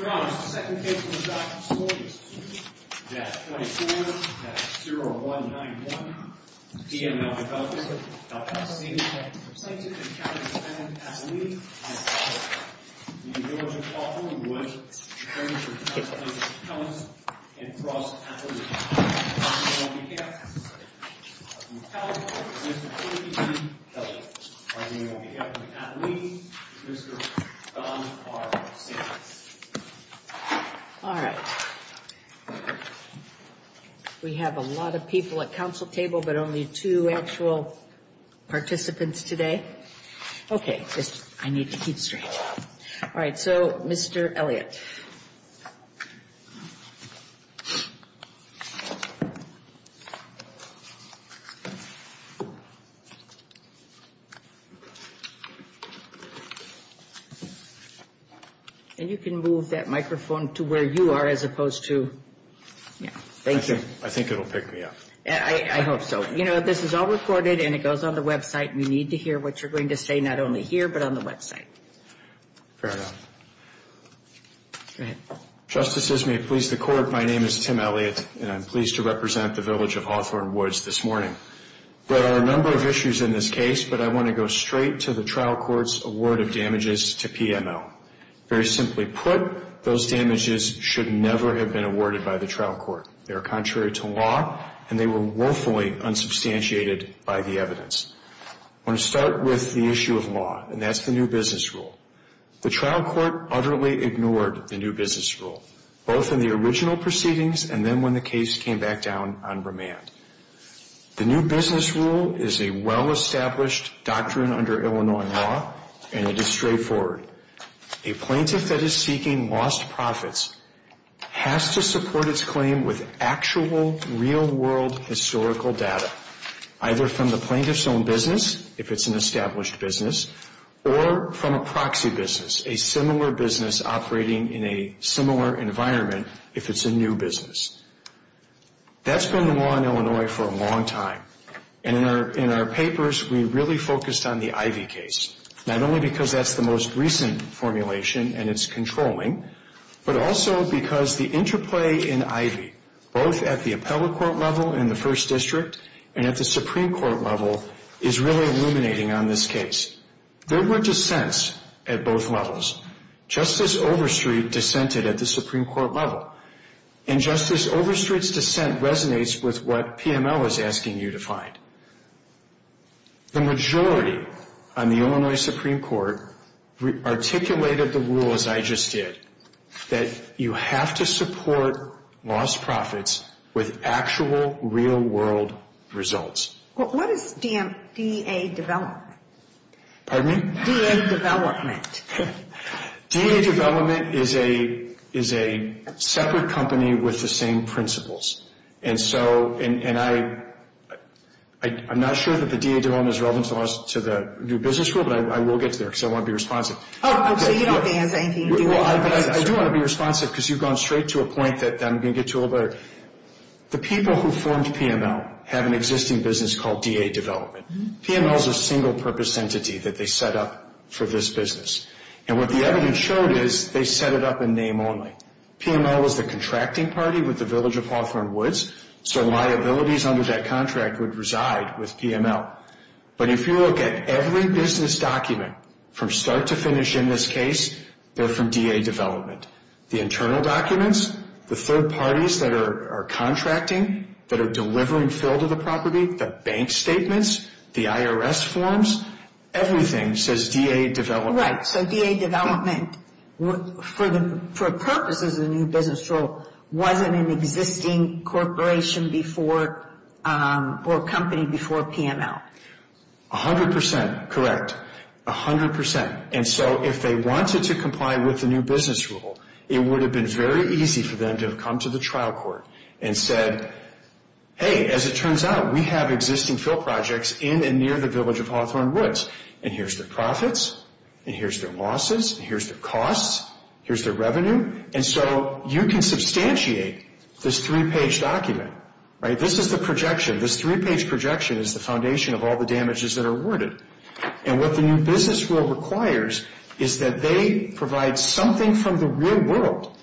Your Honors, the second case of the draft court is D-24-0191, DML Development LLC v. Village of Hawthorn Woods On behalf of Mr. Kelly, on behalf of Ms. Thomas, and on behalf of Mr. Don R. Sanders And you can move that microphone to where you are as opposed to, yeah, thank you. I think it will pick me up. I hope so. You know, this is all recorded and it goes on the website. You need to hear what you're going to say not only here but on the website. Fair enough. Justices, may it please the Court, my name is Tim Elliott and I'm pleased to represent the Village of Hawthorn Woods this morning. There are a number of issues in this case, but I want to go straight to the trial court's award of damages to PML. Very simply put, those damages should never have been awarded by the trial court. They are contrary to law and they were woefully unsubstantiated by the evidence. I want to start with the issue of law, and that's the new business rule. The trial court utterly ignored the new business rule, both in the original proceedings and then when the case came back down on remand. The new business rule is a well-established doctrine under Illinois law and it is straightforward. A plaintiff that is seeking lost profits has to support its claim with actual, real-world historical data, either from the plaintiff's own business, if it's an established business, or from a proxy business, a similar business operating in a similar environment, if it's a new business. That's been the law in Illinois for a long time, and in our papers we really focused on the Ivey case, not only because that's the most recent formulation and it's controlling, but also because the interplay in Ivey, both at the appellate court level in the first district and at the Supreme Court level, is really illuminating on this case. There were dissents at both levels. Justice Overstreet dissented at the Supreme Court level, and Justice Overstreet's dissent resonates with what PML is asking you to find. The majority on the Illinois Supreme Court articulated the rule, as I just did, that you have to support lost profits with actual, real-world results. What is DA Development? Pardon me? DA Development. DA Development is a separate company with the same principles. I'm not sure that the DA Development is relevant to the new business rule, but I will get to there because I want to be responsive. Oh, so you don't think it's anything to do with the business rule? I do want to be responsive because you've gone straight to a point that I'm going to get to a little better. The people who formed PML have an existing business called DA Development. PML is a single-purpose entity that they set up for this business, and what the evidence showed is they set it up in name only. PML was the contracting party with the Village of Hawthorne Woods, so liabilities under that contract would reside with PML. But if you look at every business document from start to finish in this case, they're from DA Development. The internal documents, the third parties that are contracting, that are delivering fill to the property, the bank statements, the IRS forms, everything says DA Development. Oh, right, so DA Development, for purposes of the new business rule, wasn't an existing corporation or company before PML. A hundred percent, correct. A hundred percent. And so if they wanted to comply with the new business rule, it would have been very easy for them to have come to the trial court and said, hey, as it turns out, we have existing fill projects in and near the Village of Hawthorne Woods, and here's their profits, and here's their losses, and here's their costs, here's their revenue. And so you can substantiate this three-page document. This is the projection. This three-page projection is the foundation of all the damages that are awarded. And what the new business rule requires is that they provide something from the real world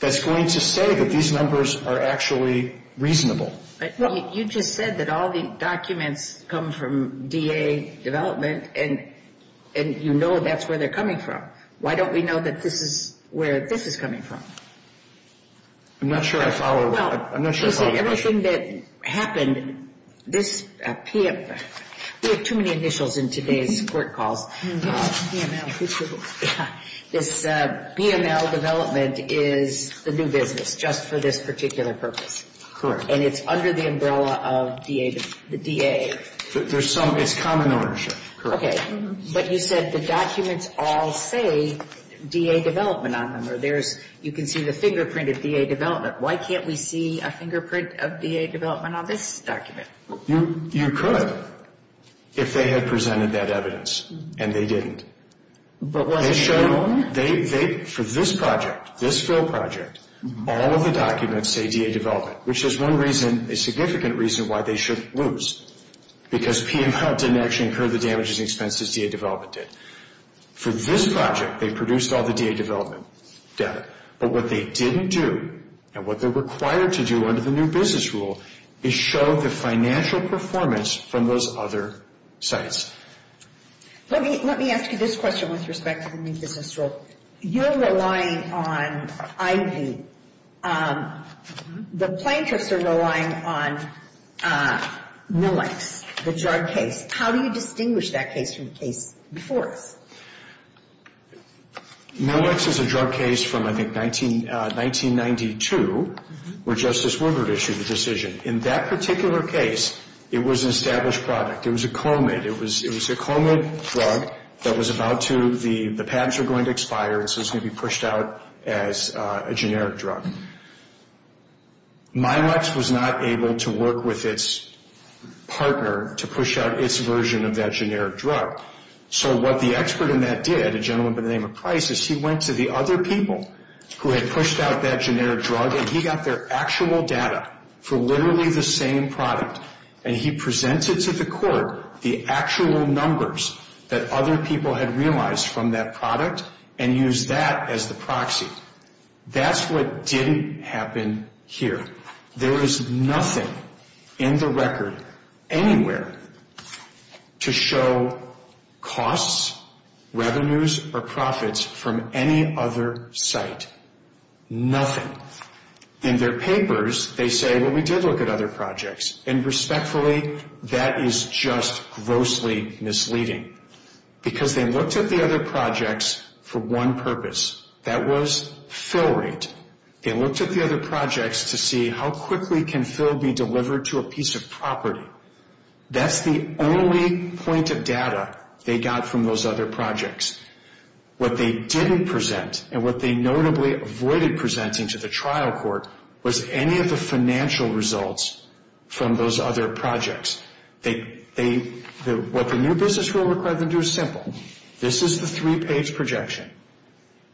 that's going to say that these numbers are actually reasonable. You just said that all the documents come from DA Development, and you know that's where they're coming from. Why don't we know that this is where this is coming from? I'm not sure I follow. Well, you said everything that happened, this, we have too many initials in today's court calls. PML. This PML development is the new business just for this particular purpose. Correct. And it's under the umbrella of the DA. There's some, it's common ownership. Okay. But you said the documents all say DA Development on them, or there's, you can see the fingerprint of DA Development. Why can't we see a fingerprint of DA Development on this document? You could if they had presented that evidence, and they didn't. But was it shown? They, for this project, this Phil project, all of the documents say DA Development, which is one reason, a significant reason why they shouldn't lose, because PML didn't actually incur the damages and expenses DA Development did. For this project, they produced all the DA Development data. But what they didn't do, and what they're required to do under the new business rule, is show the financial performance from those other sites. Let me ask you this question with respect to the new business rule. You're relying on IV. The plaintiffs are relying on Millex, the drug case. How do you distinguish that case from the case before us? Millex is a drug case from, I think, 1992, where Justice Woodward issued the decision. In that particular case, it was an established product. It was a Comid. It was a Comid drug that was about to, the pads were going to expire, and so it was going to be pushed out as a generic drug. Millex was not able to work with its partner to push out its version of that generic drug. So what the expert in that did, a gentleman by the name of Price, is he went to the other people who had pushed out that generic drug, and he got their actual data for literally the same product, and he presented to the court the actual numbers that other people had realized from that product and used that as the proxy. That's what didn't happen here. There is nothing in the record anywhere to show costs, revenues, or profits from any other site. Nothing. In their papers, they say, well, we did look at other projects, and respectfully, that is just grossly misleading because they looked at the other projects for one purpose. That was fill rate. They looked at the other projects to see how quickly can fill be delivered to a piece of property. That's the only point of data they got from those other projects. What they didn't present, and what they notably avoided presenting to the trial court, was any of the financial results from those other projects. What the new business rule required them to do is simple. This is the three-page projection.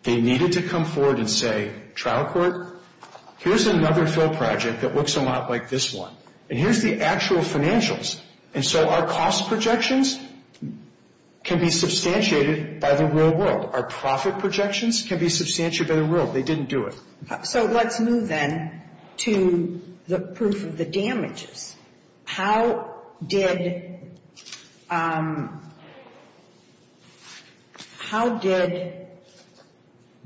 They needed to come forward and say, trial court, here's another fill project that looks a lot like this one, and here's the actual financials, and so our cost projections can be substantiated by the real world. Our profit projections can be substantiated by the real world. They didn't do it. So let's move then to the proof of the damages. How did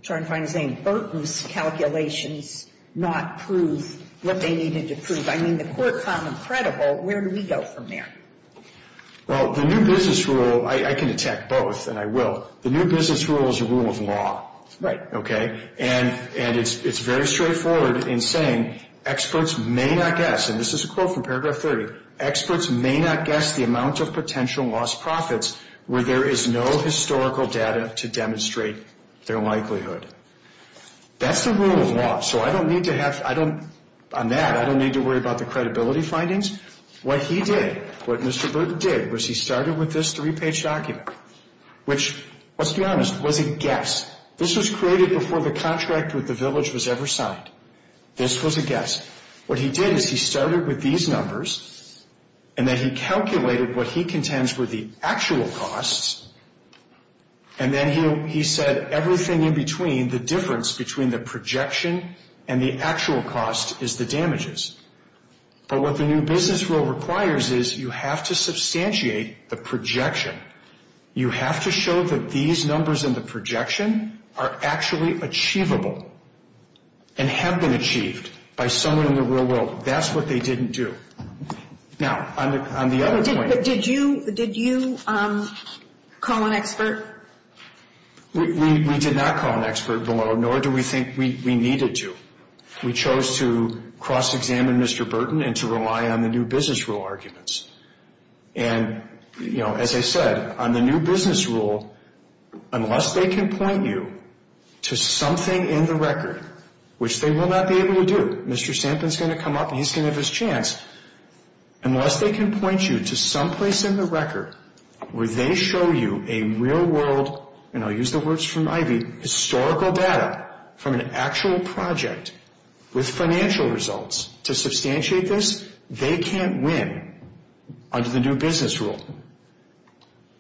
Burton's calculations not prove what they needed to prove? I mean, the court found them credible. Where do we go from there? Well, the new business rule, I can attack both, and I will. The new business rule is a rule of law. Right. Okay? And it's very straightforward in saying experts may not guess, and this is a quote from paragraph 30, experts may not guess the amount of potential lost profits where there is no historical data to demonstrate their likelihood. That's the rule of law. So I don't need to have, on that, I don't need to worry about the credibility findings. What he did, what Mr. Burton did, was he started with this three-page document, which, let's be honest, was a guess. This was created before the contract with the village was ever signed. This was a guess. What he did is he started with these numbers, and then he calculated what he contends were the actual costs, and then he said everything in between, the difference between the projection and the actual cost is the damages. But what the new business rule requires is you have to substantiate the projection. You have to show that these numbers in the projection are actually achievable and have been achieved by someone in the real world. That's what they didn't do. Now, on the other point. Did you call an expert? We did not call an expert below, nor do we think we needed to. We chose to cross-examine Mr. Burton and to rely on the new business rule arguments. And, you know, as I said, on the new business rule, unless they can point you to something in the record, which they will not be able to do, Mr. Stampin's going to come up and he's going to have his chance. Unless they can point you to someplace in the record where they show you a real-world, and I'll use the words from Ivy, historical data from an actual project with financial results to substantiate this, they can't win under the new business rule.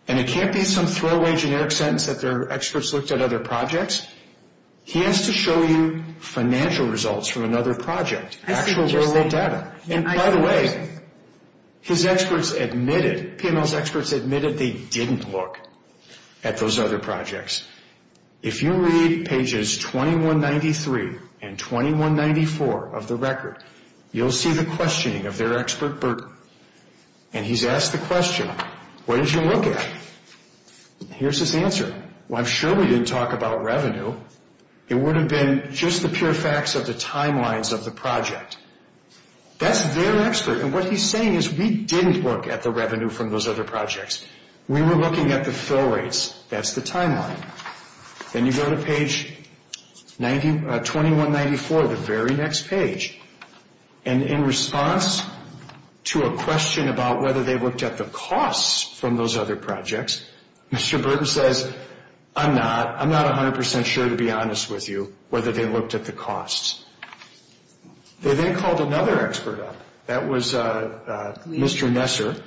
And it can't be some throwaway generic sentence that their experts looked at other projects. He has to show you financial results from another project, actual real-world data. And, by the way, his experts admitted, PMO's experts admitted they didn't look at those other projects. If you read pages 2193 and 2194 of the record, you'll see the questioning of their expert, Burton. And he's asked the question, what did you look at? Here's his answer. Well, I'm sure we didn't talk about revenue. It would have been just the pure facts of the timelines of the project. That's their expert. And what he's saying is we didn't look at the revenue from those other projects. We were looking at the fill rates. That's the timeline. Then you go to page 2194, the very next page. And in response to a question about whether they looked at the costs from those other projects, Mr. Burton says, I'm not, I'm not 100% sure, to be honest with you, whether they looked at the costs. They then called another expert up. That was Mr. Nesser.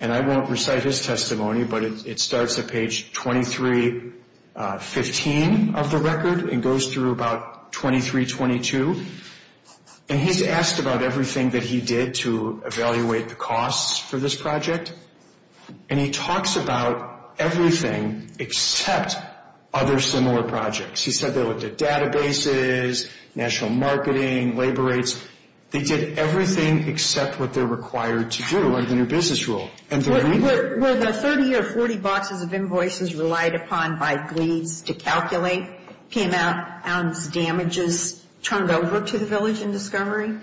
And I won't recite his testimony, but it starts at page 2315 of the record and goes through about 2322. And he's asked about everything that he did to evaluate the costs for this project. And he talks about everything except other similar projects. He said they looked at databases, national marketing, labor rates. They did everything except what they're required to do under the new business rule. Were the 30 or 40 boxes of invoices relied upon by GLEADS to calculate, PMF, ounce damages turned over to the village in Discovery?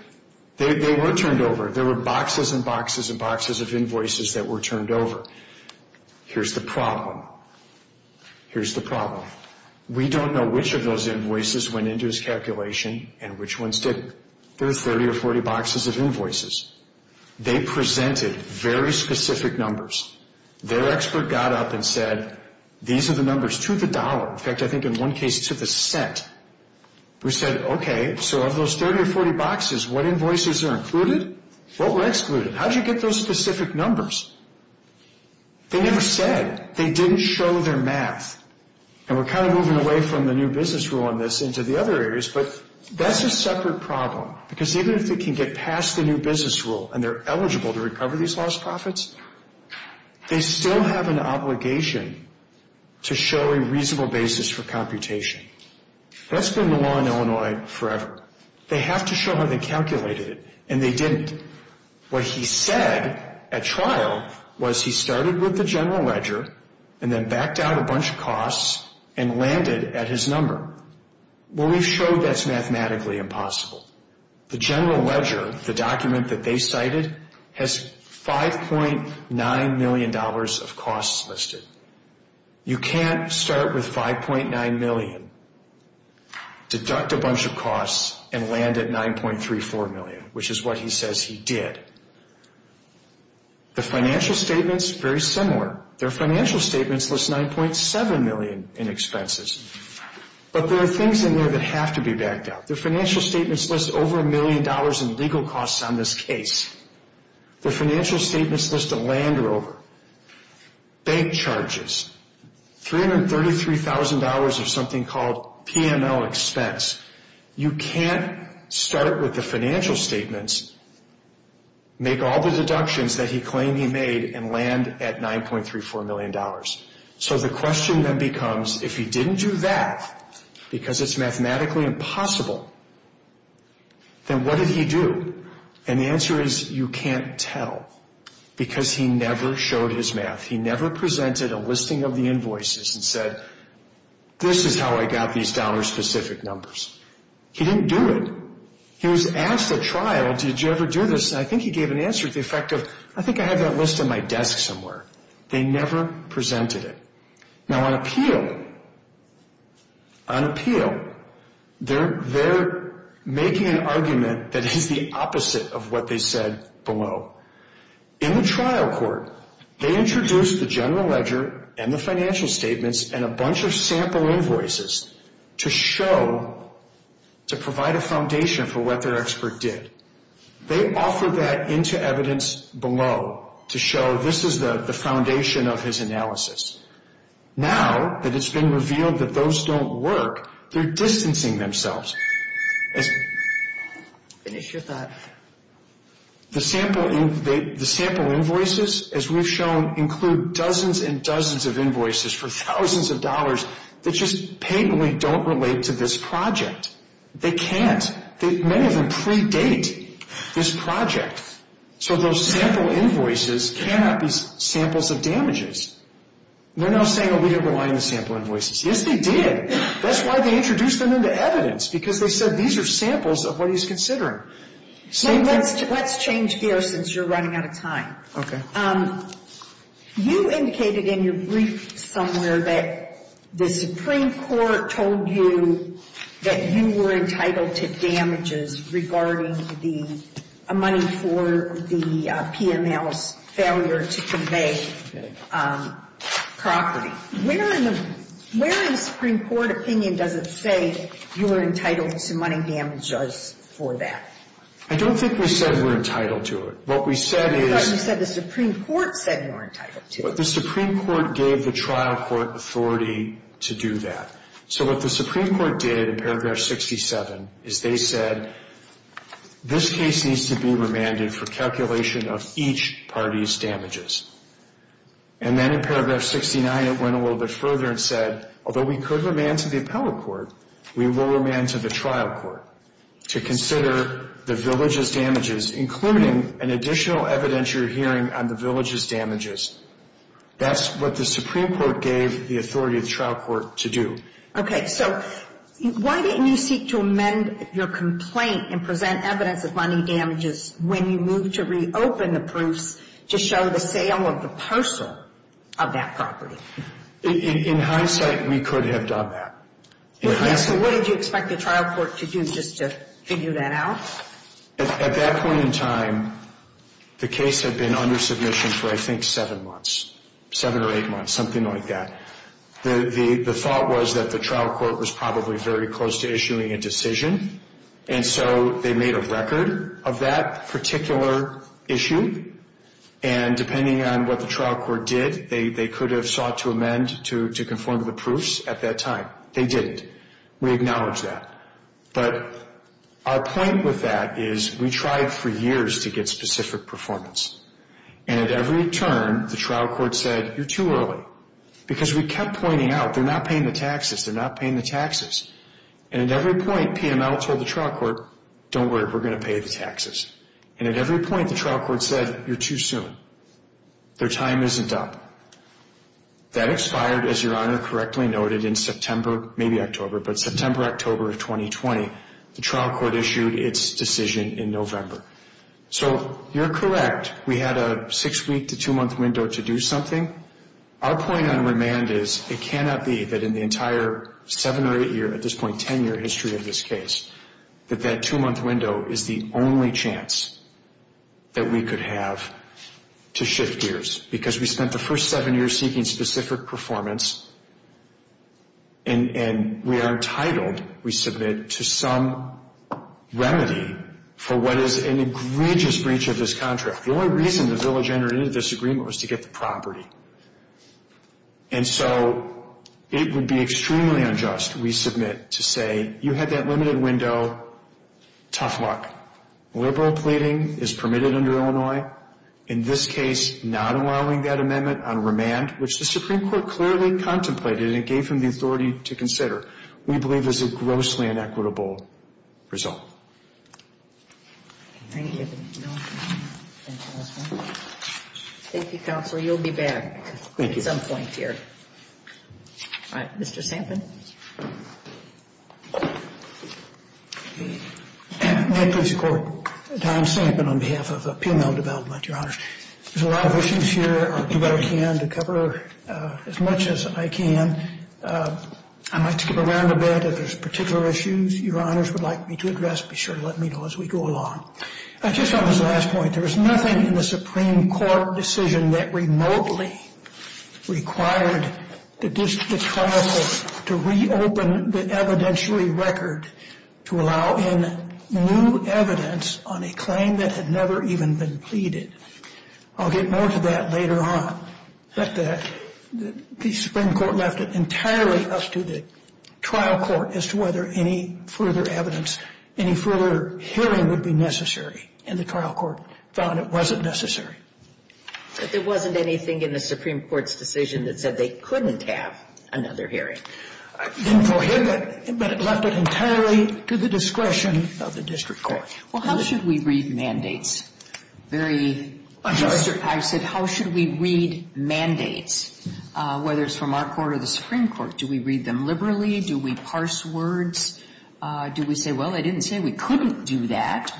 They were turned over. There were boxes and boxes and boxes of invoices that were turned over. Here's the problem. Here's the problem. We don't know which of those invoices went into his calculation and which ones didn't. There were 30 or 40 boxes of invoices. They presented very specific numbers. Their expert got up and said, these are the numbers to the dollar. In fact, I think in one case to the cent. We said, okay, so of those 30 or 40 boxes, what invoices are included, what were excluded? How did you get those specific numbers? They never said. They didn't show their math. And we're kind of moving away from the new business rule on this into the other areas, but that's a separate problem because even if they can get past the new business rule and they're eligible to recover these lost profits, they still have an obligation to show a reasonable basis for computation. That's been the law in Illinois forever. They have to show how they calculated it, and they didn't. What he said at trial was he started with the general ledger and then backed out a bunch of costs and landed at his number. Well, we've showed that's mathematically impossible. The general ledger, the document that they cited, has $5.9 million of costs listed. You can't start with $5.9 million, deduct a bunch of costs, and land at $9.34 million, which is what he says he did. The financial statements, very similar. Their financial statements list $9.7 million in expenses. But there are things in there that have to be backed out. Their financial statements list over $1 million in legal costs on this case. Their financial statements list a land rover, bank charges, $333,000 of something called PML expense. You can't start with the financial statements, make all the deductions that he claimed he made, and land at $9.34 million. So the question then becomes, if he didn't do that because it's mathematically impossible, then what did he do? And the answer is you can't tell because he never showed his math. He never presented a listing of the invoices and said, this is how I got these dollar-specific numbers. He didn't do it. He was asked at trial, did you ever do this, and I think he gave an answer to the effect of, I think I have that list on my desk somewhere. They never presented it. Now on appeal, on appeal, they're making an argument that is the opposite of what they said below. In the trial court, they introduced the general ledger and the financial statements and a bunch of sample invoices to show, to provide a foundation for what their expert did. They offered that into evidence below to show this is the foundation of his analysis. Now that it's been revealed that those don't work, they're distancing themselves. Finish your thought. The sample invoices, as we've shown, include dozens and dozens of invoices for thousands of dollars that just patently don't relate to this project. They can't. Many of them predate this project. So those sample invoices cannot be samples of damages. They're now saying, oh, we don't rely on the sample invoices. Yes, they did. That's why they introduced them into evidence, because they said these are samples of what he's considering. Let's change gears since you're running out of time. Okay. You indicated in your brief somewhere that the Supreme Court told you that you were entitled to damages regarding the money for the P&L's failure to convey property. Where in the Supreme Court opinion does it say you're entitled to money damages for that? I don't think we said we're entitled to it. What we said is— I thought you said the Supreme Court said you're entitled to it. The Supreme Court gave the trial court authority to do that. So what the Supreme Court did in paragraph 67 is they said, this case needs to be remanded for calculation of each party's damages. And then in paragraph 69 it went a little bit further and said, although we could remand to the appellate court, we will remand to the trial court to consider the village's damages, including an additional evidence you're hearing on the village's damages. That's what the Supreme Court gave the authority of the trial court to do. Okay. So why didn't you seek to amend your complaint and present evidence of money damages when you moved to reopen the proofs to show the sale of the parcel of that property? In hindsight, we could have done that. So what did you expect the trial court to do just to figure that out? At that point in time, the case had been under submission for, I think, seven months, seven or eight months, something like that. The thought was that the trial court was probably very close to issuing a decision, and so they made a record of that particular issue. And depending on what the trial court did, they could have sought to amend to conform to the proofs at that time. They didn't. We acknowledge that. But our point with that is we tried for years to get specific performance. And at every turn, the trial court said, you're too early. Because we kept pointing out, they're not paying the taxes, they're not paying the taxes. And at every point, PML told the trial court, don't worry, we're going to pay the taxes. And at every point, the trial court said, you're too soon. Their time isn't up. That expired, as Your Honor correctly noted, in September, maybe October, but September, October of 2020. The trial court issued its decision in November. So you're correct. We had a six-week to two-month window to do something. Our point on remand is it cannot be that in the entire seven or eight-year, at this point ten-year history of this case, that that two-month window is the only chance that we could have to shift gears. Because we spent the first seven years seeking specific performance, and we are entitled, we submit, to some remedy for what is an egregious breach of this contract. The only reason the village entered into this agreement was to get the property. And so it would be extremely unjust, we submit, to say you had that limited window, tough luck. Liberal pleading is permitted under Illinois. In this case, not allowing that amendment on remand, which the Supreme Court clearly contemplated and gave him the authority to consider, we believe is a grossly inequitable result. Thank you. Thank you, Counselor. You'll be back at some point here. All right. Mr. Sampin. My pleasure, Court. Tom Sampin on behalf of PML Development, Your Honors. There's a lot of issues here. I'll do what I can to cover as much as I can. I might skip around a bit. If there's particular issues Your Honors would like me to address, be sure to let me know as we go along. Just on this last point, there was nothing in the Supreme Court decision that remotely required the district trial court to reopen the evidentiary record to allow in new evidence on a claim that had never even been pleaded. I'll get more to that later on. But the Supreme Court left it entirely up to the trial court as to whether any further evidence, any further hearing would be necessary. And the trial court found it wasn't necessary. But there wasn't anything in the Supreme Court's decision that said they couldn't have another hearing. Didn't prohibit, but it left it entirely to the discretion of the district court. Well, how should we read mandates? I said, how should we read mandates, whether it's from our court or the Supreme Court? Do we read them liberally? Do we parse words? Do we say, well, they didn't say we couldn't do that.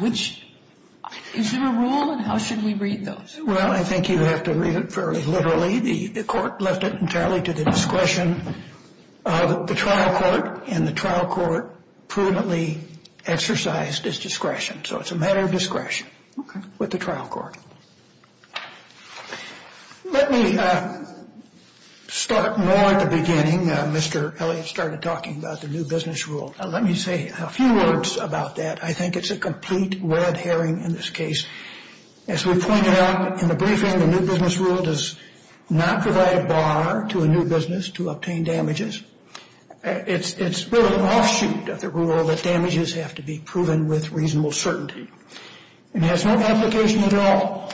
Is there a rule? And how should we read those? Well, I think you have to read it fairly literally. The court left it entirely to the discretion of the trial court. And the trial court prudently exercised its discretion. So it's a matter of discretion with the trial court. Let me start more at the beginning. Mr. Elliott started talking about the new business rule. Let me say a few words about that. I think it's a complete red herring in this case. As we pointed out in the briefing, the new business rule does not provide a bar to a new business to obtain damages. It's really an offshoot of the rule that damages have to be proven with reasonable certainty. And it has no application at all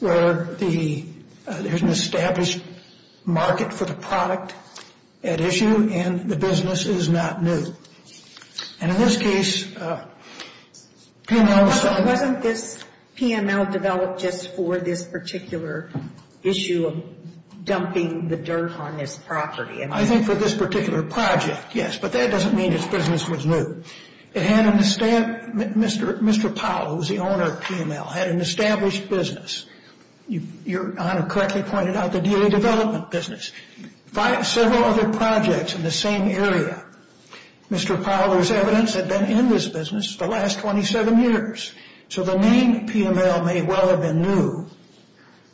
where there's an established market for the product at issue and the business is not new. And in this case, PML was stuck. Wasn't this PML developed just for this particular issue of dumping the dirt on this property? I think for this particular project, yes. But that doesn't mean its business was new. It had an established Mr. Powell, who was the owner of PML, had an established business. Your Honor correctly pointed out the daily development business. Several other projects in the same area, Mr. Powell's evidence had been in this business the last 27 years. So the name PML may well have been new,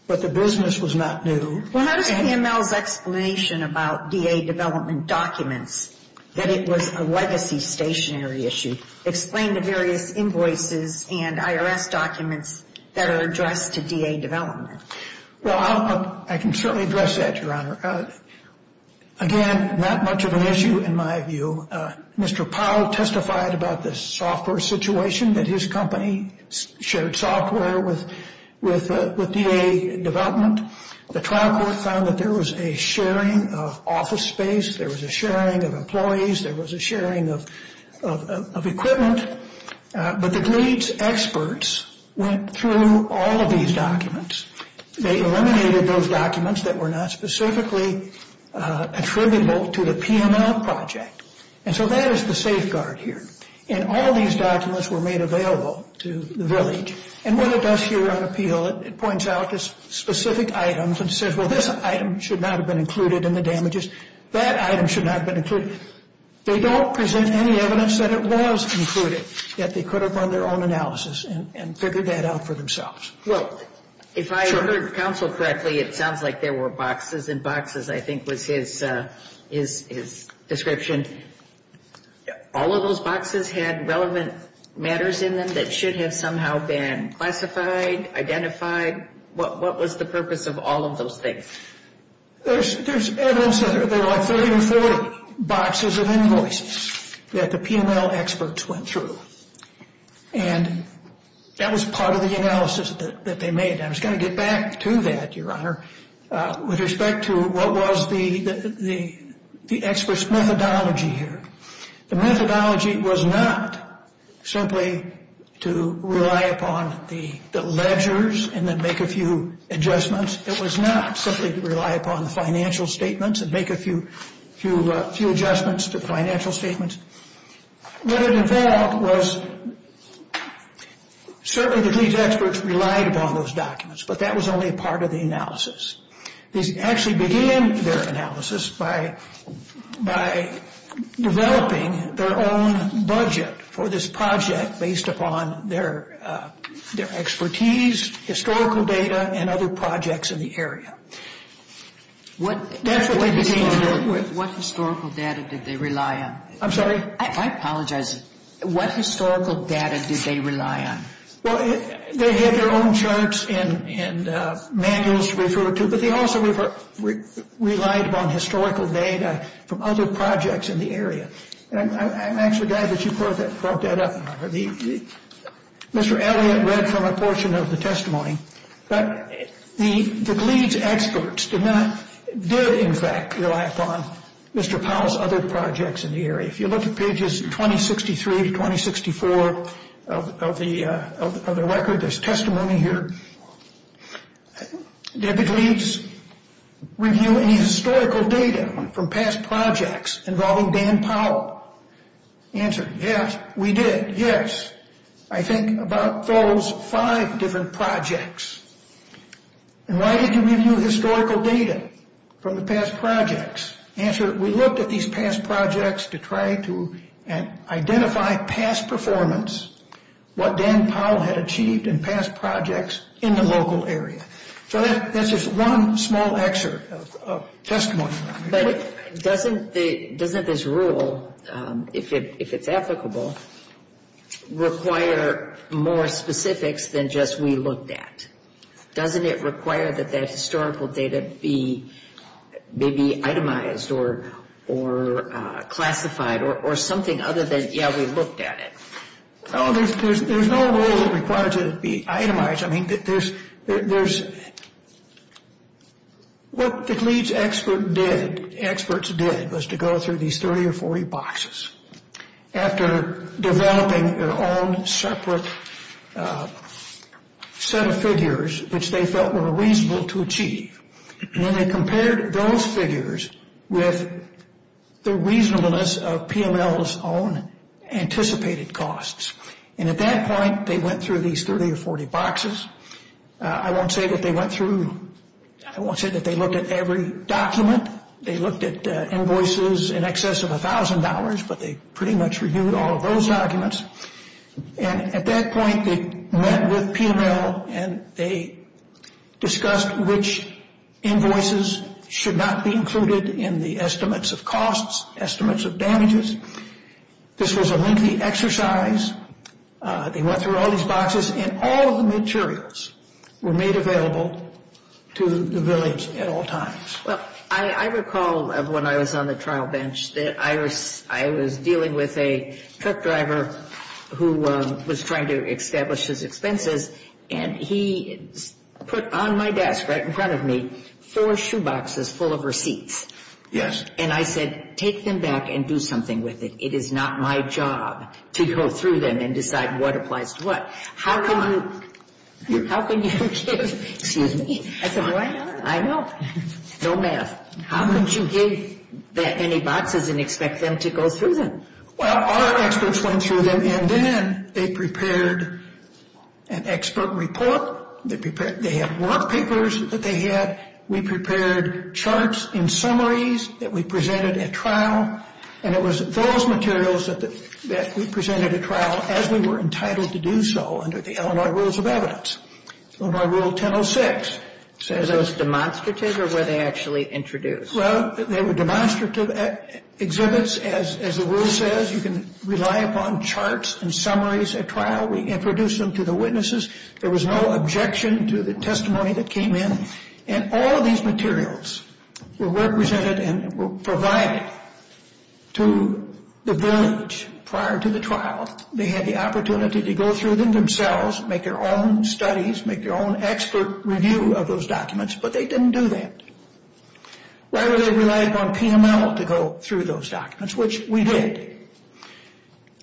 but the business was not new. Well, how does PML's explanation about DA development documents, that it was a legacy stationary issue, explain the various invoices and IRS documents that are addressed to DA development? Well, I can certainly address that, Your Honor. Again, not much of an issue in my view. Mr. Powell testified about the software situation, that his company shared software with DA development. The trial court found that there was a sharing of office space. There was a sharing of employees. There was a sharing of equipment. But the DLEADS experts went through all of these documents. They eliminated those documents that were not specifically attributable to the PML project. And so that is the safeguard here. And all these documents were made available to the village. And what it does here on appeal, it points out the specific items and says, well, this item should not have been included in the damages. That item should not have been included. They don't present any evidence that it was included, yet they could have run their own analysis and figured that out for themselves. Well, if I heard counsel correctly, it sounds like there were boxes and boxes, I think, was his description. All of those boxes had relevant matters in them that should have somehow been classified, identified. What was the purpose of all of those things? There's evidence that there are 30 or 40 boxes of invoices that the PML experts went through. And that was part of the analysis that they made. I was going to get back to that, Your Honor, with respect to what was the experts' methodology here. The methodology was not simply to rely upon the ledgers and then make a few adjustments. It was not simply to rely upon the financial statements and make a few adjustments to financial statements. What it involved was certainly that these experts relied upon those documents, but that was only a part of the analysis. They actually began their analysis by developing their own budget for this project based upon their expertise, historical data, and other projects in the area. What historical data did they rely on? I'm sorry? I apologize. What historical data did they rely on? Well, they had their own charts and manuals to refer to, but they also relied upon historical data from other projects in the area. I'm actually glad that you brought that up, Your Honor. Mr. Elliott read from a portion of the testimony, but the Glieds experts did, in fact, rely upon Mr. Powell's other projects in the area. If you look at pages 2063 to 2064 of the record, there's testimony here. Did the Glieds review any historical data from past projects involving Dan Powell? Answer, yes, we did, yes. I think about those five different projects. And why did you review historical data from the past projects? Answer, we looked at these past projects to try to identify past performance, what Dan Powell had achieved in past projects in the local area. So that's just one small excerpt of testimony. But doesn't this rule, if it's applicable, require more specifics than just we looked at? Doesn't it require that that historical data be itemized or classified or something other than, yeah, we looked at it? No, there's no rule required to be itemized. I mean, what the Glieds experts did was to go through these 30 or 40 boxes after developing their own separate set of figures which they felt were reasonable to achieve. And then they compared those figures with the reasonableness of PML's own anticipated costs. And at that point, they went through these 30 or 40 boxes. I won't say that they went through, I won't say that they looked at every document. They looked at invoices in excess of $1,000, but they pretty much reviewed all of those documents. And at that point, they met with PML and they discussed which invoices should not be included in the estimates of costs, estimates of damages. This was a lengthy exercise. They went through all these boxes, and all of the materials were made available to the Williams at all times. Well, I recall when I was on the trial bench that I was dealing with a truck driver who was trying to establish his expenses, and he put on my desk right in front of me four shoeboxes full of receipts. Yes. And I said, take them back and do something with it. It is not my job to go through them and decide what applies to what. How can you give – excuse me. I said, why not? I know. No math. How could you give that many boxes and expect them to go through them? Well, our experts went through them, and then they prepared an expert report. They had work papers that they had. We prepared charts and summaries that we presented at trial, and it was those materials that we presented at trial as we were entitled to do so under the Illinois Rules of Evidence, Illinois Rule 1006. Were those demonstrative, or were they actually introduced? Well, they were demonstrative exhibits. As the rule says, you can rely upon charts and summaries at trial. We introduced them to the witnesses. There was no objection to the testimony that came in. And all of these materials were represented and were provided to the village prior to the trial. They had the opportunity to go through them themselves, make their own studies, make their own expert review of those documents, but they didn't do that. Why would they rely upon PML to go through those documents, which we did.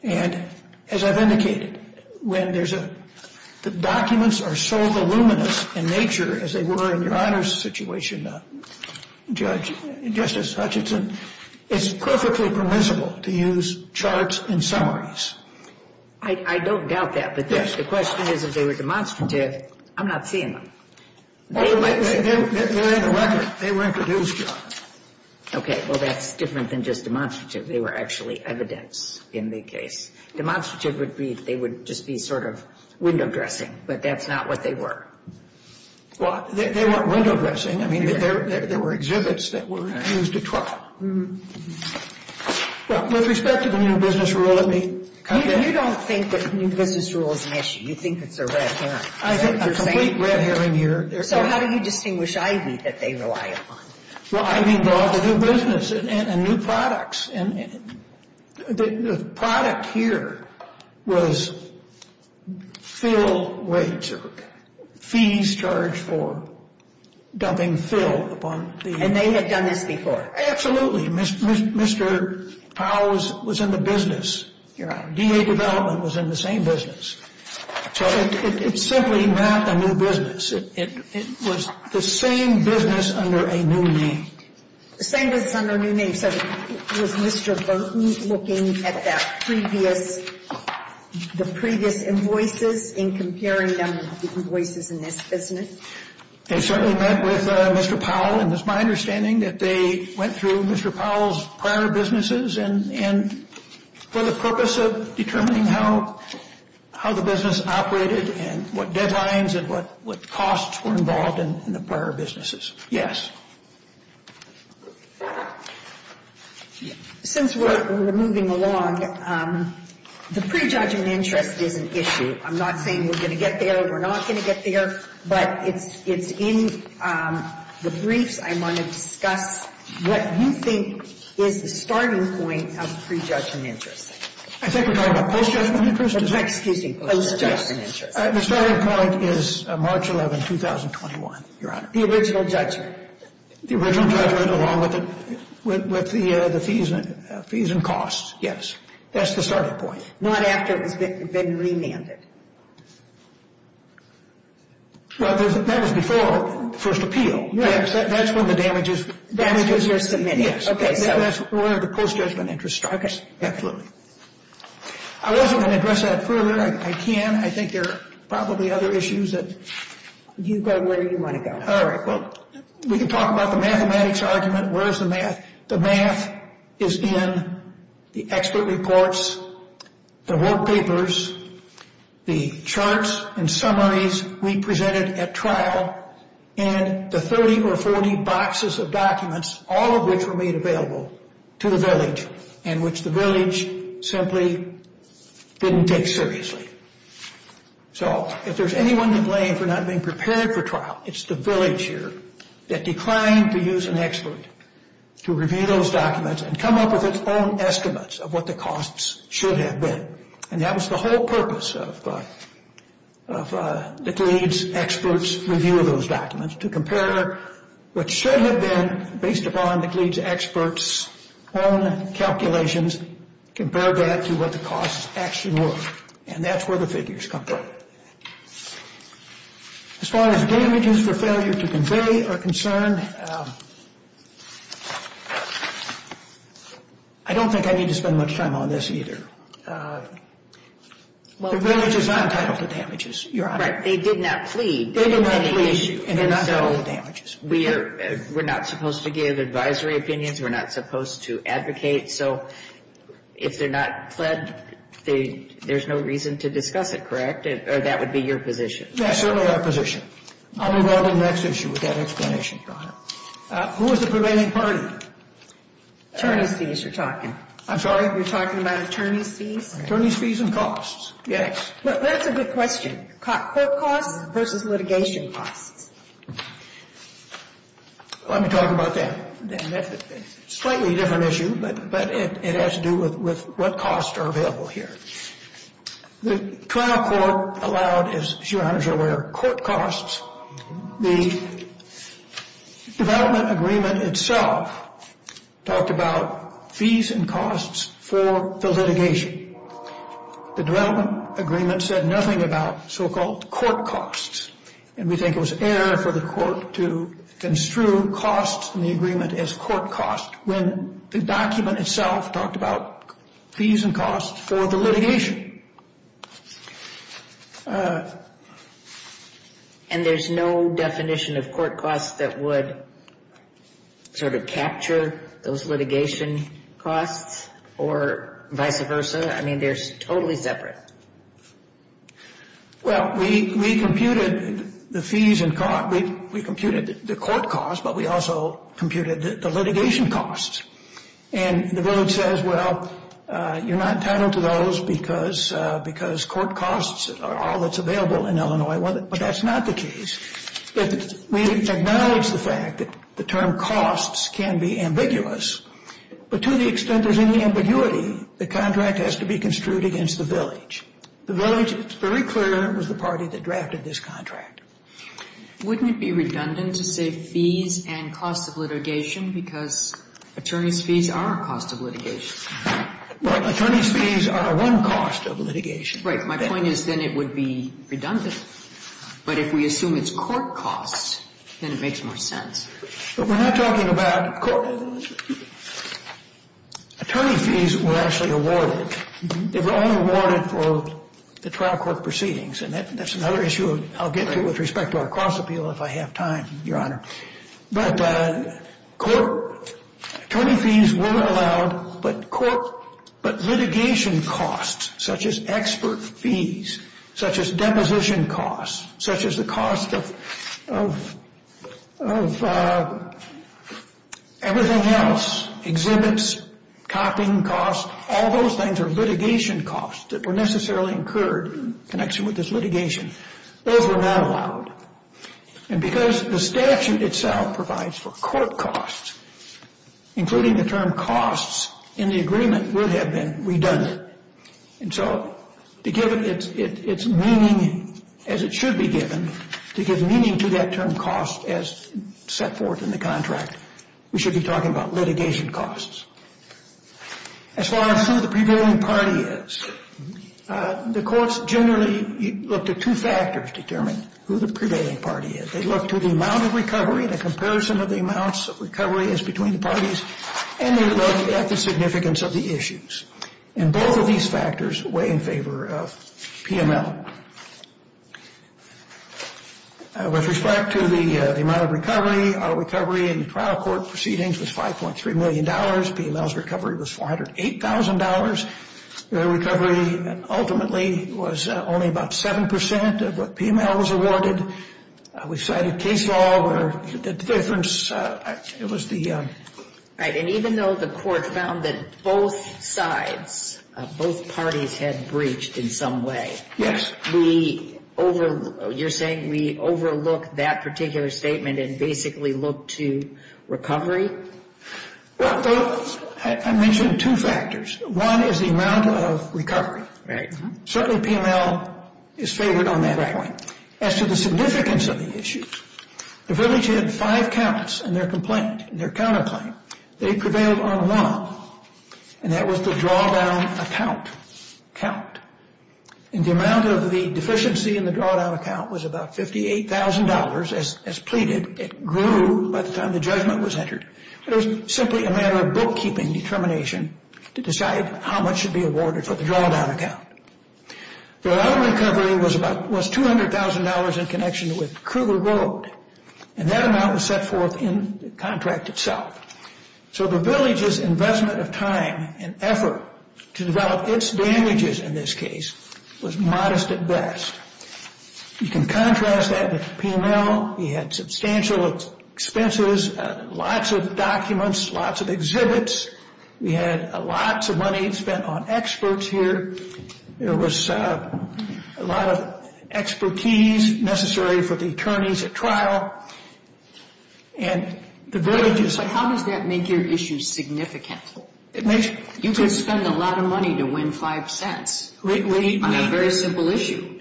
And as I've indicated, when there's a – when documents are so voluminous in nature as they were in Your Honor's situation, Judge, Justice Hutchinson, it's perfectly permissible to use charts and summaries. I don't doubt that, but the question is if they were demonstrative, I'm not seeing them. They're in the record. They were introduced, Your Honor. Okay. Well, that's different than just demonstrative. They were actually evidence in the case. Demonstrative would be they would just be sort of window dressing, but that's not what they were. Well, they weren't window dressing. I mean, there were exhibits that were used at trial. Well, with respect to the new business rule, let me comment. You don't think that the new business rule is an issue. You think it's a red herring. I think there's a complete red herring here. So how do you distinguish Ivy that they rely upon? Well, Ivy involved a new business and new products. And the product here was fill rates or fees charged for dumping fill upon the. And they had done this before. Absolutely. Mr. Powell was in the business. D.A. Development was in the same business. So it's simply not a new business. It was the same business under a new name. The same business under a new name. So was Mr. Burton looking at the previous invoices and comparing them to the invoices in this business? They certainly met with Mr. Powell. And it's my understanding that they went through Mr. Powell's prior businesses for the purpose of determining how the business operated and what deadlines and what costs were involved in the prior businesses. Yes. Since we're moving along, the prejudgment interest is an issue. I'm not saying we're going to get there. We're not going to get there. But it's in the briefs. I want to discuss what you think is the starting point of prejudgment interest. I think we're talking about post-judgment interest. Excuse me. Post-judgment interest. The starting point is March 11, 2021, Your Honor. The original judgment. The original judgment along with the fees and costs, yes. That's the starting point. Not after it's been remanded. Well, that was before the first appeal. That's when the damages were submitted. That's where the post-judgment interest starts. I wasn't going to address that further. I can. I think there are probably other issues that You go where you want to go. All right. We can talk about the mathematics argument. Where's the math? The math is in the expert reports, the work papers, the charts and summaries we presented at trial, and the 30 or 40 boxes of documents, all of which were made available to the village, and which the village simply didn't take seriously. So if there's anyone to blame for not being prepared for trial, it's the village here that declined to use an expert to review those documents and come up with its own estimates of what the costs should have been. And that was the whole purpose of the GLEADS experts' review of those documents, to compare what should have been based upon the GLEADS experts' own calculations, compare that to what the costs actually were. And that's where the figures come from. As far as damages for failure to convey are concerned, I don't think I need to spend much time on this either. The village is not entitled to damages, Your Honor. Right. They did not plead. They did not plead, and they're not entitled to damages. And so we're not supposed to give advisory opinions. We're not supposed to advocate. So if they're not pled, there's no reason to discuss it, correct? Or that would be your position? Yes, certainly our position. I'll move on to the next issue with that explanation, Your Honor. Who was the prevailing party? Attorney's fees, you're talking. I'm sorry? You're talking about attorney's fees? Attorney's fees and costs. Yes. Well, that's a good question. Court costs versus litigation costs. Let me talk about that. Slightly different issue, but it has to do with what costs are available here. The trial court allowed, as Your Honor is aware, court costs. The development agreement itself talked about fees and costs for the litigation. The development agreement said nothing about so-called court costs, and we think it was error for the court to construe costs in the agreement as court costs when the document itself talked about fees and costs for the litigation. And there's no definition of court costs that would sort of capture those litigation costs or vice versa? I mean, they're totally separate. Well, we computed the fees and costs. We computed the court costs, but we also computed the litigation costs. And the village says, well, you're not entitled to those because court costs are all that's available in Illinois. But that's not the case. We acknowledge the fact that the term costs can be ambiguous, but to the extent there's any ambiguity, the contract has to be construed against the village. The village, it's very clear, was the party that drafted this contract. Wouldn't it be redundant to say fees and costs of litigation because attorneys' fees are a cost of litigation? Right. Attorneys' fees are one cost of litigation. Right. My point is then it would be redundant. But if we assume it's court costs, then it makes more sense. But we're not talking about court. Attorney fees were actually awarded. They were only awarded for the trial court proceedings. And that's another issue I'll get to with respect to our cost appeal if I have time, Your Honor. But litigation costs such as expert fees, such as deposition costs, such as the cost of everything else, exhibits, copying costs, all those things are litigation costs that were necessarily incurred in connection with this litigation. Those were not allowed. And because the statute itself provides for court costs, including the term costs, in the agreement would have been redundant. And so to give it its meaning as it should be given, to give meaning to that term cost as set forth in the contract, we should be talking about litigation costs. As far as who the prevailing party is, the courts generally look to two factors to determine who the prevailing party is. They look to the amount of recovery, the comparison of the amounts of recovery as between the parties, and they look at the significance of the issues. And both of these factors weigh in favor of PML. With respect to the amount of recovery, our recovery in trial court proceedings was $5.3 million. PML's recovery was $408,000. Their recovery ultimately was only about 7% of what PML was awarded. We cited case law where the difference, it was the... Right, and even though the court found that both sides, both parties had breached in some way. Yes. You're saying we overlook that particular statement and basically look to recovery? Well, I mentioned two factors. One is the amount of recovery. Right. Certainly PML is favored on that point. As to the significance of the issues, the village had five counts in their complaint, in their counterclaim. They prevailed on one, and that was the drawdown account. And the amount of the deficiency in the drawdown account was about $58,000. As pleaded, it grew by the time the judgment was entered. It was simply a matter of bookkeeping determination to decide how much should be awarded for the drawdown account. The amount of recovery was $200,000 in connection with Kruger Road. And that amount was set forth in the contract itself. So the village's investment of time and effort to develop its damages in this case was modest at best. You can contrast that with PML. We had substantial expenses, lots of documents, lots of exhibits. We had lots of money spent on experts here. There was a lot of expertise necessary for the attorneys at trial. And the village is— But how does that make your issue significant? It makes— You could spend a lot of money to win five cents on a very simple issue.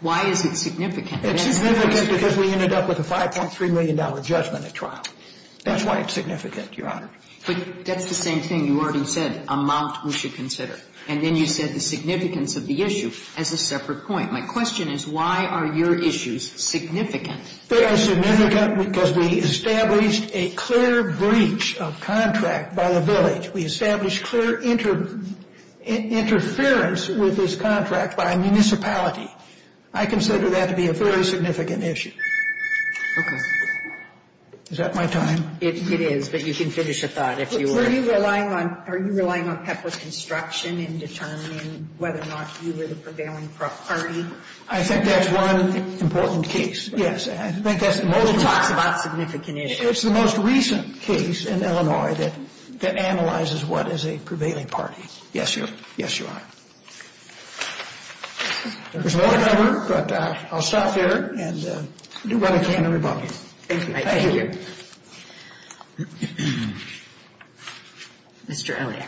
Why is it significant? It's significant because we ended up with a $5.3 million judgment at trial. That's why it's significant, Your Honor. But that's the same thing you already said, amount we should consider. And then you said the significance of the issue as a separate point. My question is why are your issues significant? Very significant because we established a clear breach of contract by the village. We established clear interference with this contract by a municipality. I consider that to be a very significant issue. Okay. Is that my time? It is, but you can finish your thought if you want. Were you relying on—are you relying on Pepper's instruction in determining whether or not you were the prevailing party? I think that's one important case. Yes, I think that's— He talks about significant issues. It's the most recent case in Illinois that analyzes what is a prevailing party. Yes, Your Honor. There's more to cover, but I'll stop there and do what I can to rebuff you. Thank you. Thank you. Mr. Elliott.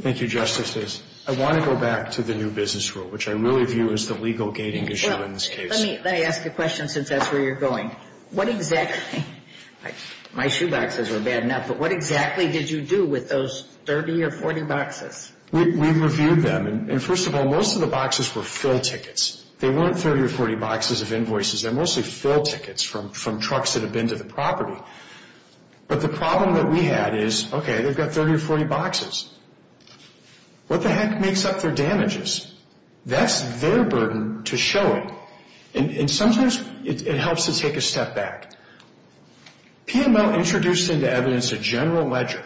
Thank you, Justice. I want to go back to the new business rule, which I really view as the legal gating issue in this case. Let me ask you a question since that's where you're going. What exactly—my shoeboxes were bad enough, but what exactly did you do with those 30 or 40 boxes? We reviewed them. And first of all, most of the boxes were fill tickets. They weren't 30 or 40 boxes of invoices. They're mostly fill tickets from trucks that have been to the property. But the problem that we had is, okay, they've got 30 or 40 boxes. What the heck makes up their damages? That's their burden to show it. And sometimes it helps to take a step back. PML introduced into evidence a general ledger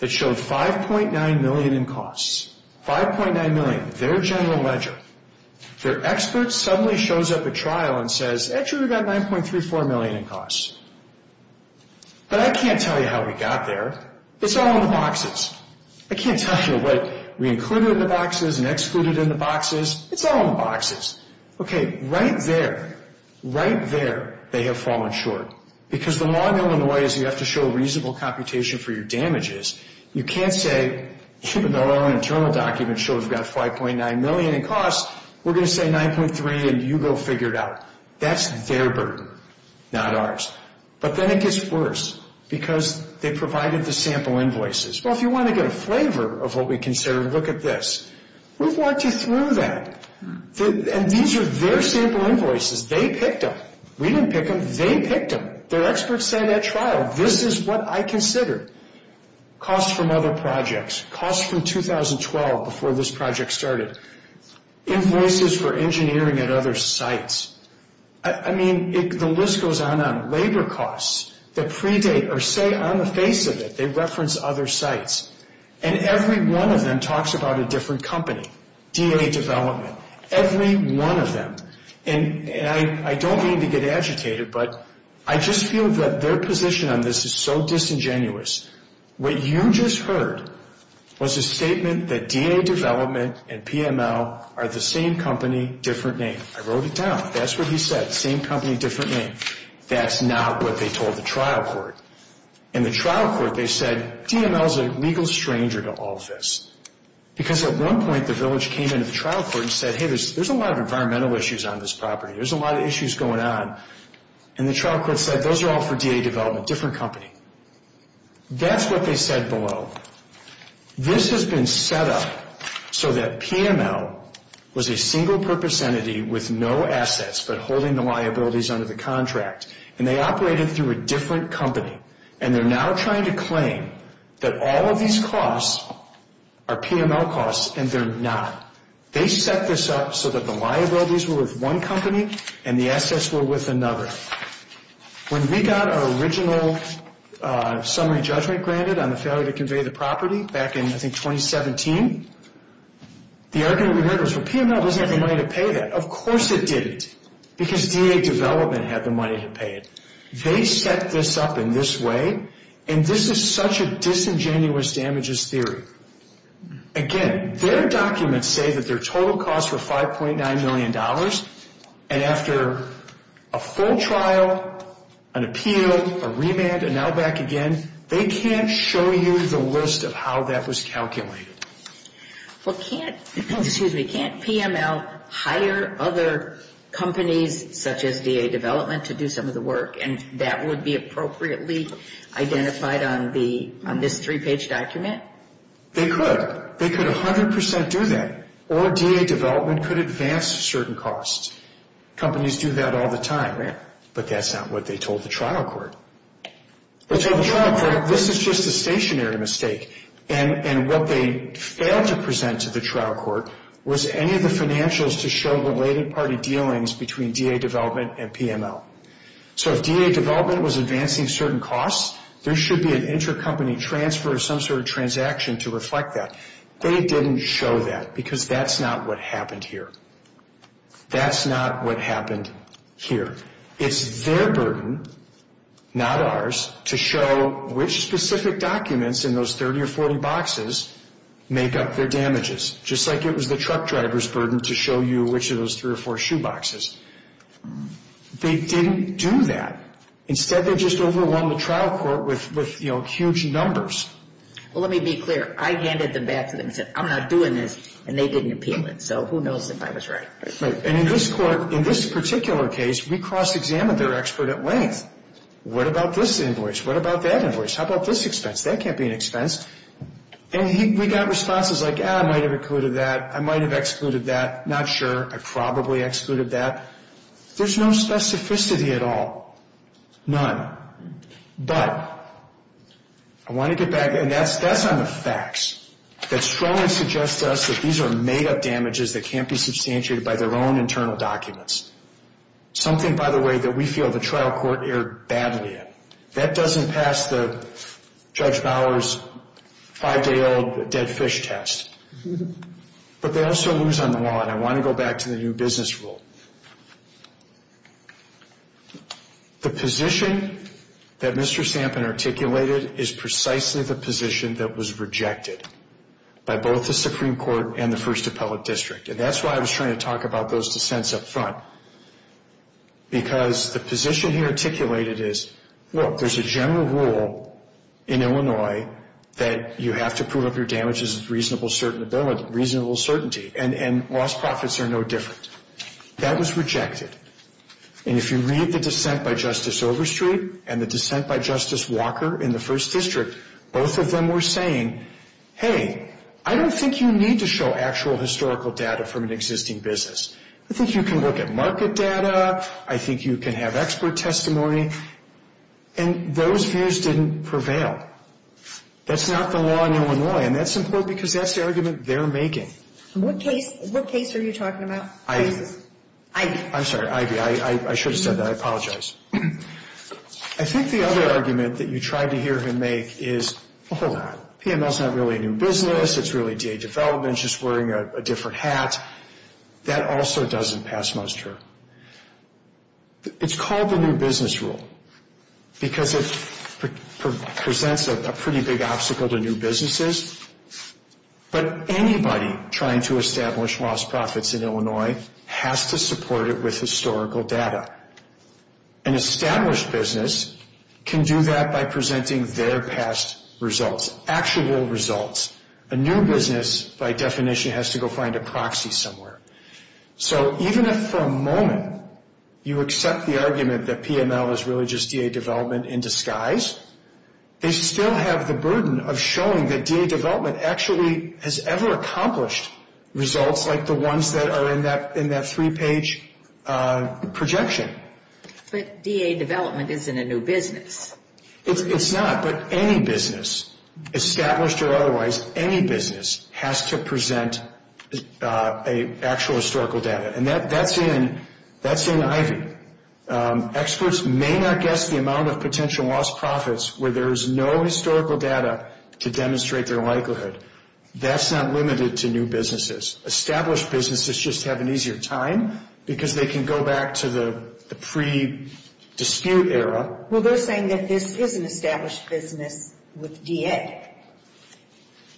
that showed $5.9 million in costs. $5.9 million, their general ledger. Their expert suddenly shows up at trial and says, actually, we've got $9.34 million in costs. But I can't tell you how we got there. It's all in the boxes. I can't tell you what we included in the boxes and excluded in the boxes. It's all in the boxes. Okay, right there, right there, they have fallen short. Because the law in Illinois is you have to show reasonable computation for your damages. You can't say, even though our own internal document shows we've got $5.9 million in costs, we're going to say $9.3 and you go figure it out. That's their burden, not ours. But then it gets worse because they provided the sample invoices. Well, if you want to get a flavor of what we consider, look at this. We've worked you through that. And these are their sample invoices. They picked them. We didn't pick them. They picked them. Their experts said at trial, this is what I consider. Costs from other projects. Costs from 2012 before this project started. Invoices for engineering at other sites. I mean, the list goes on and on. Labor costs that predate or say on the face of it, they reference other sites. And every one of them talks about a different company, DA development. Every one of them. And I don't mean to get agitated, but I just feel that their position on this is so disingenuous. What you just heard was a statement that DA development and PML are the same company, different name. I wrote it down. That's what he said. Same company, different name. That's not what they told the trial court. And the trial court, they said, DML is a legal stranger to all of this. Because at one point, the village came into the trial court and said, hey, there's a lot of environmental issues on this property. There's a lot of issues going on. And the trial court said, those are all for DA development, different company. That's what they said below. This has been set up so that PML was a single-purpose entity with no assets but holding the liabilities under the contract. And they operated through a different company. And they're now trying to claim that all of these costs are PML costs, and they're not. They set this up so that the liabilities were with one company and the assets were with another. When we got our original summary judgment granted on the failure to convey the property back in, I think, 2017, the argument we heard was, well, PML doesn't have the money to pay that. Of course it didn't, because DA development had the money to pay it. They set this up in this way, and this is such a disingenuous damages theory. Again, their documents say that their total costs were $5.9 million, and after a full trial, an appeal, a remand, and now back again, they can't show you the list of how that was calculated. Well, can't PML hire other companies such as DA development to do some of the work, and that would be appropriately identified on this three-page document? They could. They could 100% do that. Or DA development could advance certain costs. Companies do that all the time. But that's not what they told the trial court. They told the trial court, this is just a stationary mistake, and what they failed to present to the trial court was any of the financials to show related party dealings between DA development and PML. So if DA development was advancing certain costs, there should be an intercompany transfer of some sort of transaction to reflect that. They didn't show that, because that's not what happened here. That's not what happened here. It's their burden, not ours, to show which specific documents in those 30 or 40 boxes make up their damages, just like it was the truck driver's burden to show you which of those three or four shoe boxes. They didn't do that. Instead, they just overwhelmed the trial court with huge numbers. Well, let me be clear. I handed them back to them and said, I'm not doing this, and they didn't appeal it. So who knows if I was right? And in this court, in this particular case, we cross-examined their expert at length. What about this invoice? What about that invoice? How about this expense? That can't be an expense. And we got responses like, ah, I might have included that. I might have excluded that. Not sure. I probably excluded that. There's no specificity at all, none. But I want to get back, and that's on the facts, that strongly suggests to us that these are made-up damages that can't be substantiated by their own internal documents, something, by the way, that we feel the trial court erred badly in. That doesn't pass the Judge Bauer's five-day-old dead fish test. But they also lose on the law, and I want to go back to the new business rule. The position that Mr. Sampin articulated is precisely the position that was rejected by both the Supreme Court and the First Appellate District, and that's why I was trying to talk about those dissents up front, because the position he articulated is, look, there's a general rule in Illinois that you have to prove up your damages with reasonable certainty, and lost profits are no different. That was rejected. And if you read the dissent by Justice Overstreet and the dissent by Justice Walker in the First District, both of them were saying, hey, I don't think you need to show actual historical data from an existing business. I think you can look at market data. I think you can have expert testimony. And those views didn't prevail. That's not the law in Illinois, and that's important, because that's the argument they're making. What case are you talking about? Ivey. I'm sorry, Ivey. I should have said that. I apologize. I think the other argument that you tried to hear him make is, hold on, PML is not really a new business. It's really DA development, just wearing a different hat. That also doesn't pass muster. It's called the new business rule because it presents a pretty big obstacle to new businesses, but anybody trying to establish lost profits in Illinois has to support it with historical data. An established business can do that by presenting their past results, actual results. A new business, by definition, has to go find a proxy somewhere. So even if for a moment you accept the argument that PML is really just DA development in disguise, they still have the burden of showing that DA development actually has ever accomplished results like the ones that are in that three-page projection. But DA development isn't a new business. It's not, but any business, established or otherwise, any business has to present actual historical data, and that's in Ivey. Experts may not guess the amount of potential lost profits where there is no historical data to demonstrate their likelihood. That's not limited to new businesses. Established businesses just have an easier time because they can go back to the pre-dispute era. Well, they're saying that this is an established business with DA.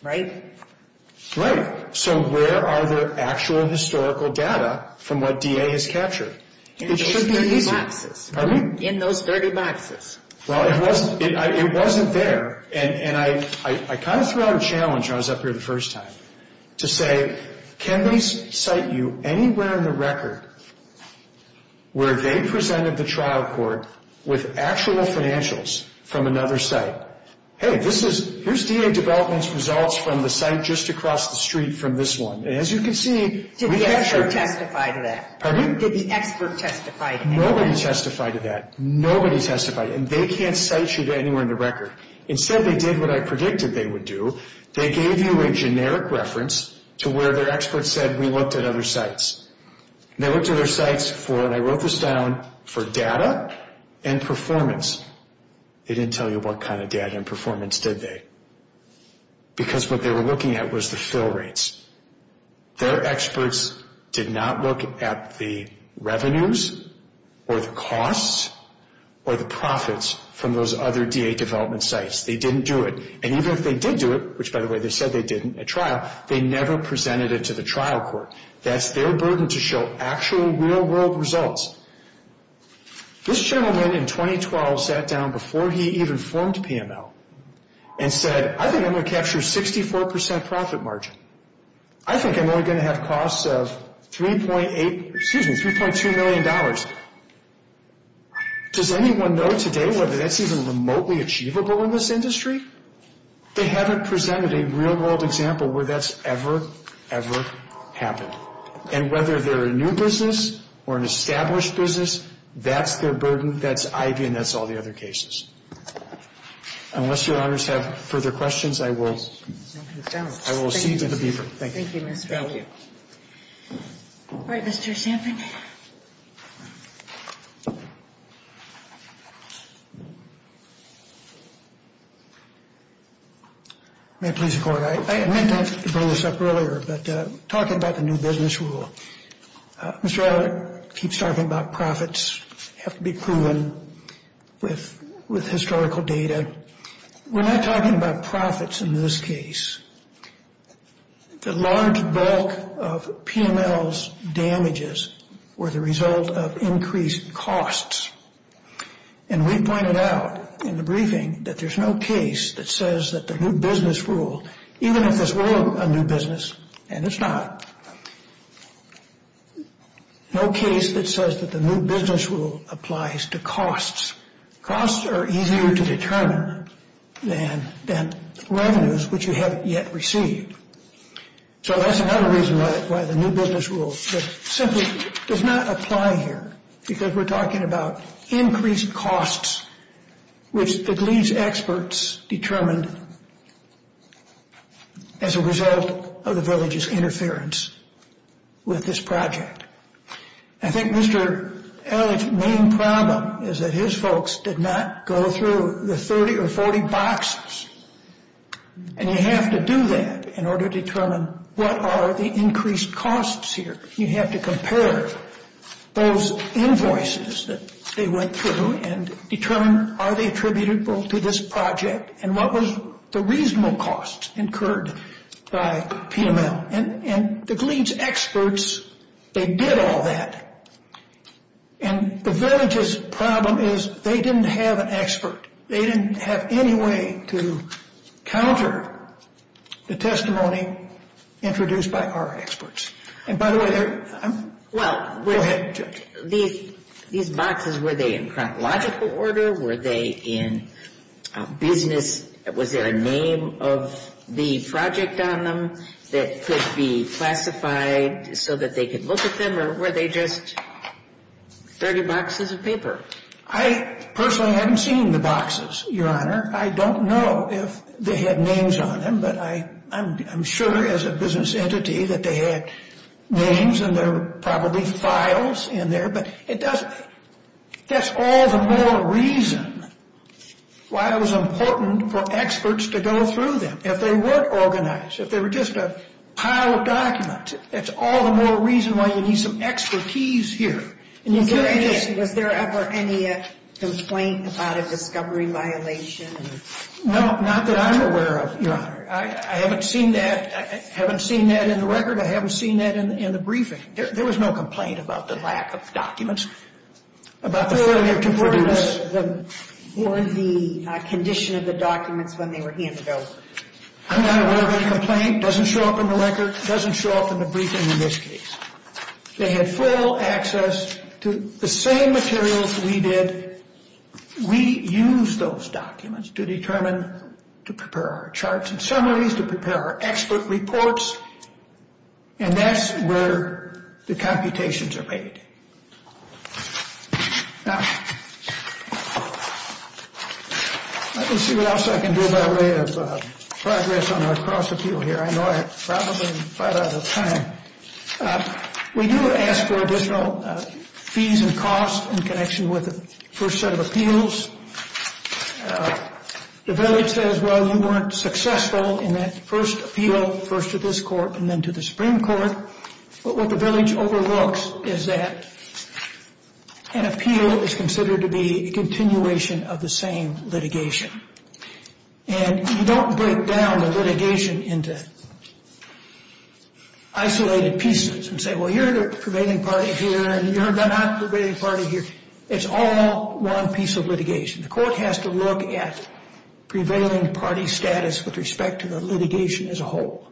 Right? So where are the actual historical data from what DA has captured? In those 30 boxes. Pardon me? In those 30 boxes. Well, it wasn't there, and I kind of threw out a challenge when I was up here the first time to say, can they cite you anywhere in the record where they presented the trial court with actual financials from another site? Hey, here's DA development's results from the site just across the street from this one. And as you can see, we captured… Did the expert testify to that? Pardon me? Did the expert testify to that? Nobody testified to that. Nobody testified, and they can't cite you to anywhere in the record. Instead, they did what I predicted they would do. They gave you a generic reference to where their expert said, we looked at other sites. They looked at other sites for, and I wrote this down, for data and performance. They didn't tell you what kind of data and performance, did they? Because what they were looking at was the fill rates. Their experts did not look at the revenues or the costs or the profits from those other DA development sites. They didn't do it. And even if they did do it, which, by the way, they said they did at trial, they never presented it to the trial court. That's their burden to show actual real-world results. This gentleman in 2012 sat down before he even formed PML and said, I think I'm going to capture a 64% profit margin. I think I'm only going to have costs of $3.2 million. Does anyone know today whether that's even remotely achievable in this industry? They haven't presented a real-world example where that's ever, ever happened. And whether they're a new business or an established business, that's their burden. That's IV and that's all the other cases. Unless your honors have further questions, I will see you to the bureau. Thank you. Thank you, Mr. Elliott. All right, Mr. Champin. May I please record? I meant to bring this up earlier, but talking about the new business rule, Mr. Elliott keeps talking about profits have to be proven with historical data. We're not talking about profits in this case. The large bulk of PML's damages were the result of increased costs. And we pointed out in the briefing that there's no case that says that the new business rule, even if this were a new business, and it's not, no case that says that the new business rule applies to costs. Costs are easier to determine than revenues, which you haven't yet received. So that's another reason why the new business rule simply does not apply here, because we're talking about increased costs, which it leaves experts determined as a result of the village's interference with this project. I think Mr. Elliott's main problem is that his folks did not go through the 30 or 40 boxes. And you have to do that in order to determine what are the increased costs here. You have to compare those invoices that they went through and determine are they attributable to this project, and what was the reasonable cost incurred by PML. And it leaves experts. They did all that. And the village's problem is they didn't have an expert. They didn't have any way to counter the testimony introduced by our experts. And by the way, I'm – go ahead, Judge. These boxes, were they in chronological order? Were they in business – was there a name of the project on them that could be classified so that they could look at them? Or were they just 30 boxes of paper? I personally haven't seen the boxes, Your Honor. I don't know if they had names on them, but I'm sure as a business entity that they had names and there were probably files in there. But it doesn't – that's all the more reason why it was important for experts to go through them. If they weren't organized, if they were just a pile of documents, that's all the more reason why you need some expertise here. Was there ever any complaint about a discovery violation? No, not that I'm aware of, Your Honor. I haven't seen that. I haven't seen that in the record. I haven't seen that in the briefing. There was no complaint about the lack of documents. About the failure to – Or the condition of the documents when they were handed over. I'm not aware of any complaint. It doesn't show up in the record. It doesn't show up in the briefing in this case. They had full access to the same materials we did. We used those documents to determine – to prepare our charts and summaries, to prepare our expert reports, and that's where the computations are made. Now, let me see what else I can do by way of progress on our cross-appeal here. I know I'm probably right out of time. We do ask for additional fees and costs in connection with the first set of appeals. The village says, well, you weren't successful in that first appeal, first to this court and then to the Supreme Court. But what the village overlooks is that an appeal is considered to be a continuation of the same litigation. And you don't break down the litigation into isolated pieces and say, well, you're the pervading party here and you're the not pervading party here. It's all one piece of litigation. The court has to look at prevailing party status with respect to the litigation as a whole.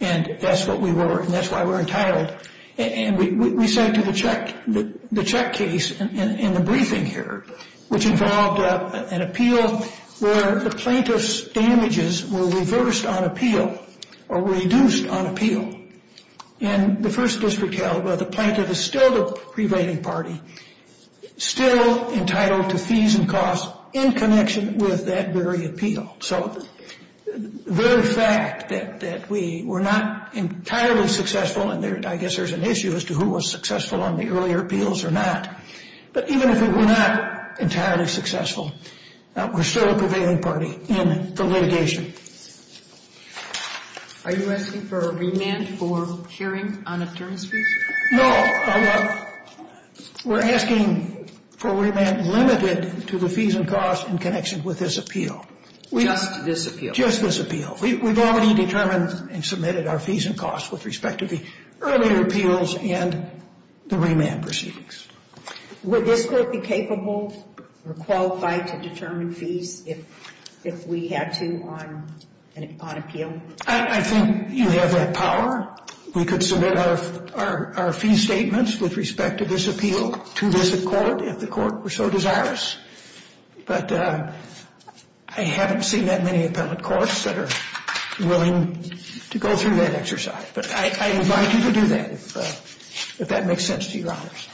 And that's what we were, and that's why we're entitled. And we said to the check case in the briefing here, which involved an appeal where the plaintiff's damages were reversed on appeal or reduced on appeal. And the first district held where the plaintiff is still the prevailing party, still entitled to fees and costs in connection with that very appeal. So the very fact that we were not entirely successful, and I guess there's an issue as to who was successful on the earlier appeals or not, but even if we were not entirely successful, we're still a prevailing party in the litigation. Are you asking for remand for sharing on attorneys' fees? No. We're asking for remand limited to the fees and costs in connection with this appeal. Just this appeal? Just this appeal. We've already determined and submitted our fees and costs with respect to the earlier appeals and the remand proceedings. Would this court be capable or qualified to determine fees if we had to on appeal? I think you have that power. We could submit our fee statements with respect to this appeal to this court if the court were so desirous. But I haven't seen that many appellate courts that are willing to go through that exercise. But I invite you to do that if that makes sense to you, Your Honors.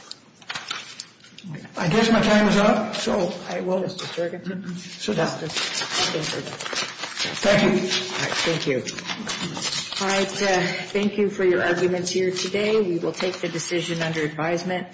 I guess my time is up, so I will just adjourn. Sit down. Thank you. Thank you. All right. Thank you for your arguments here today. We will take the decision under advisement.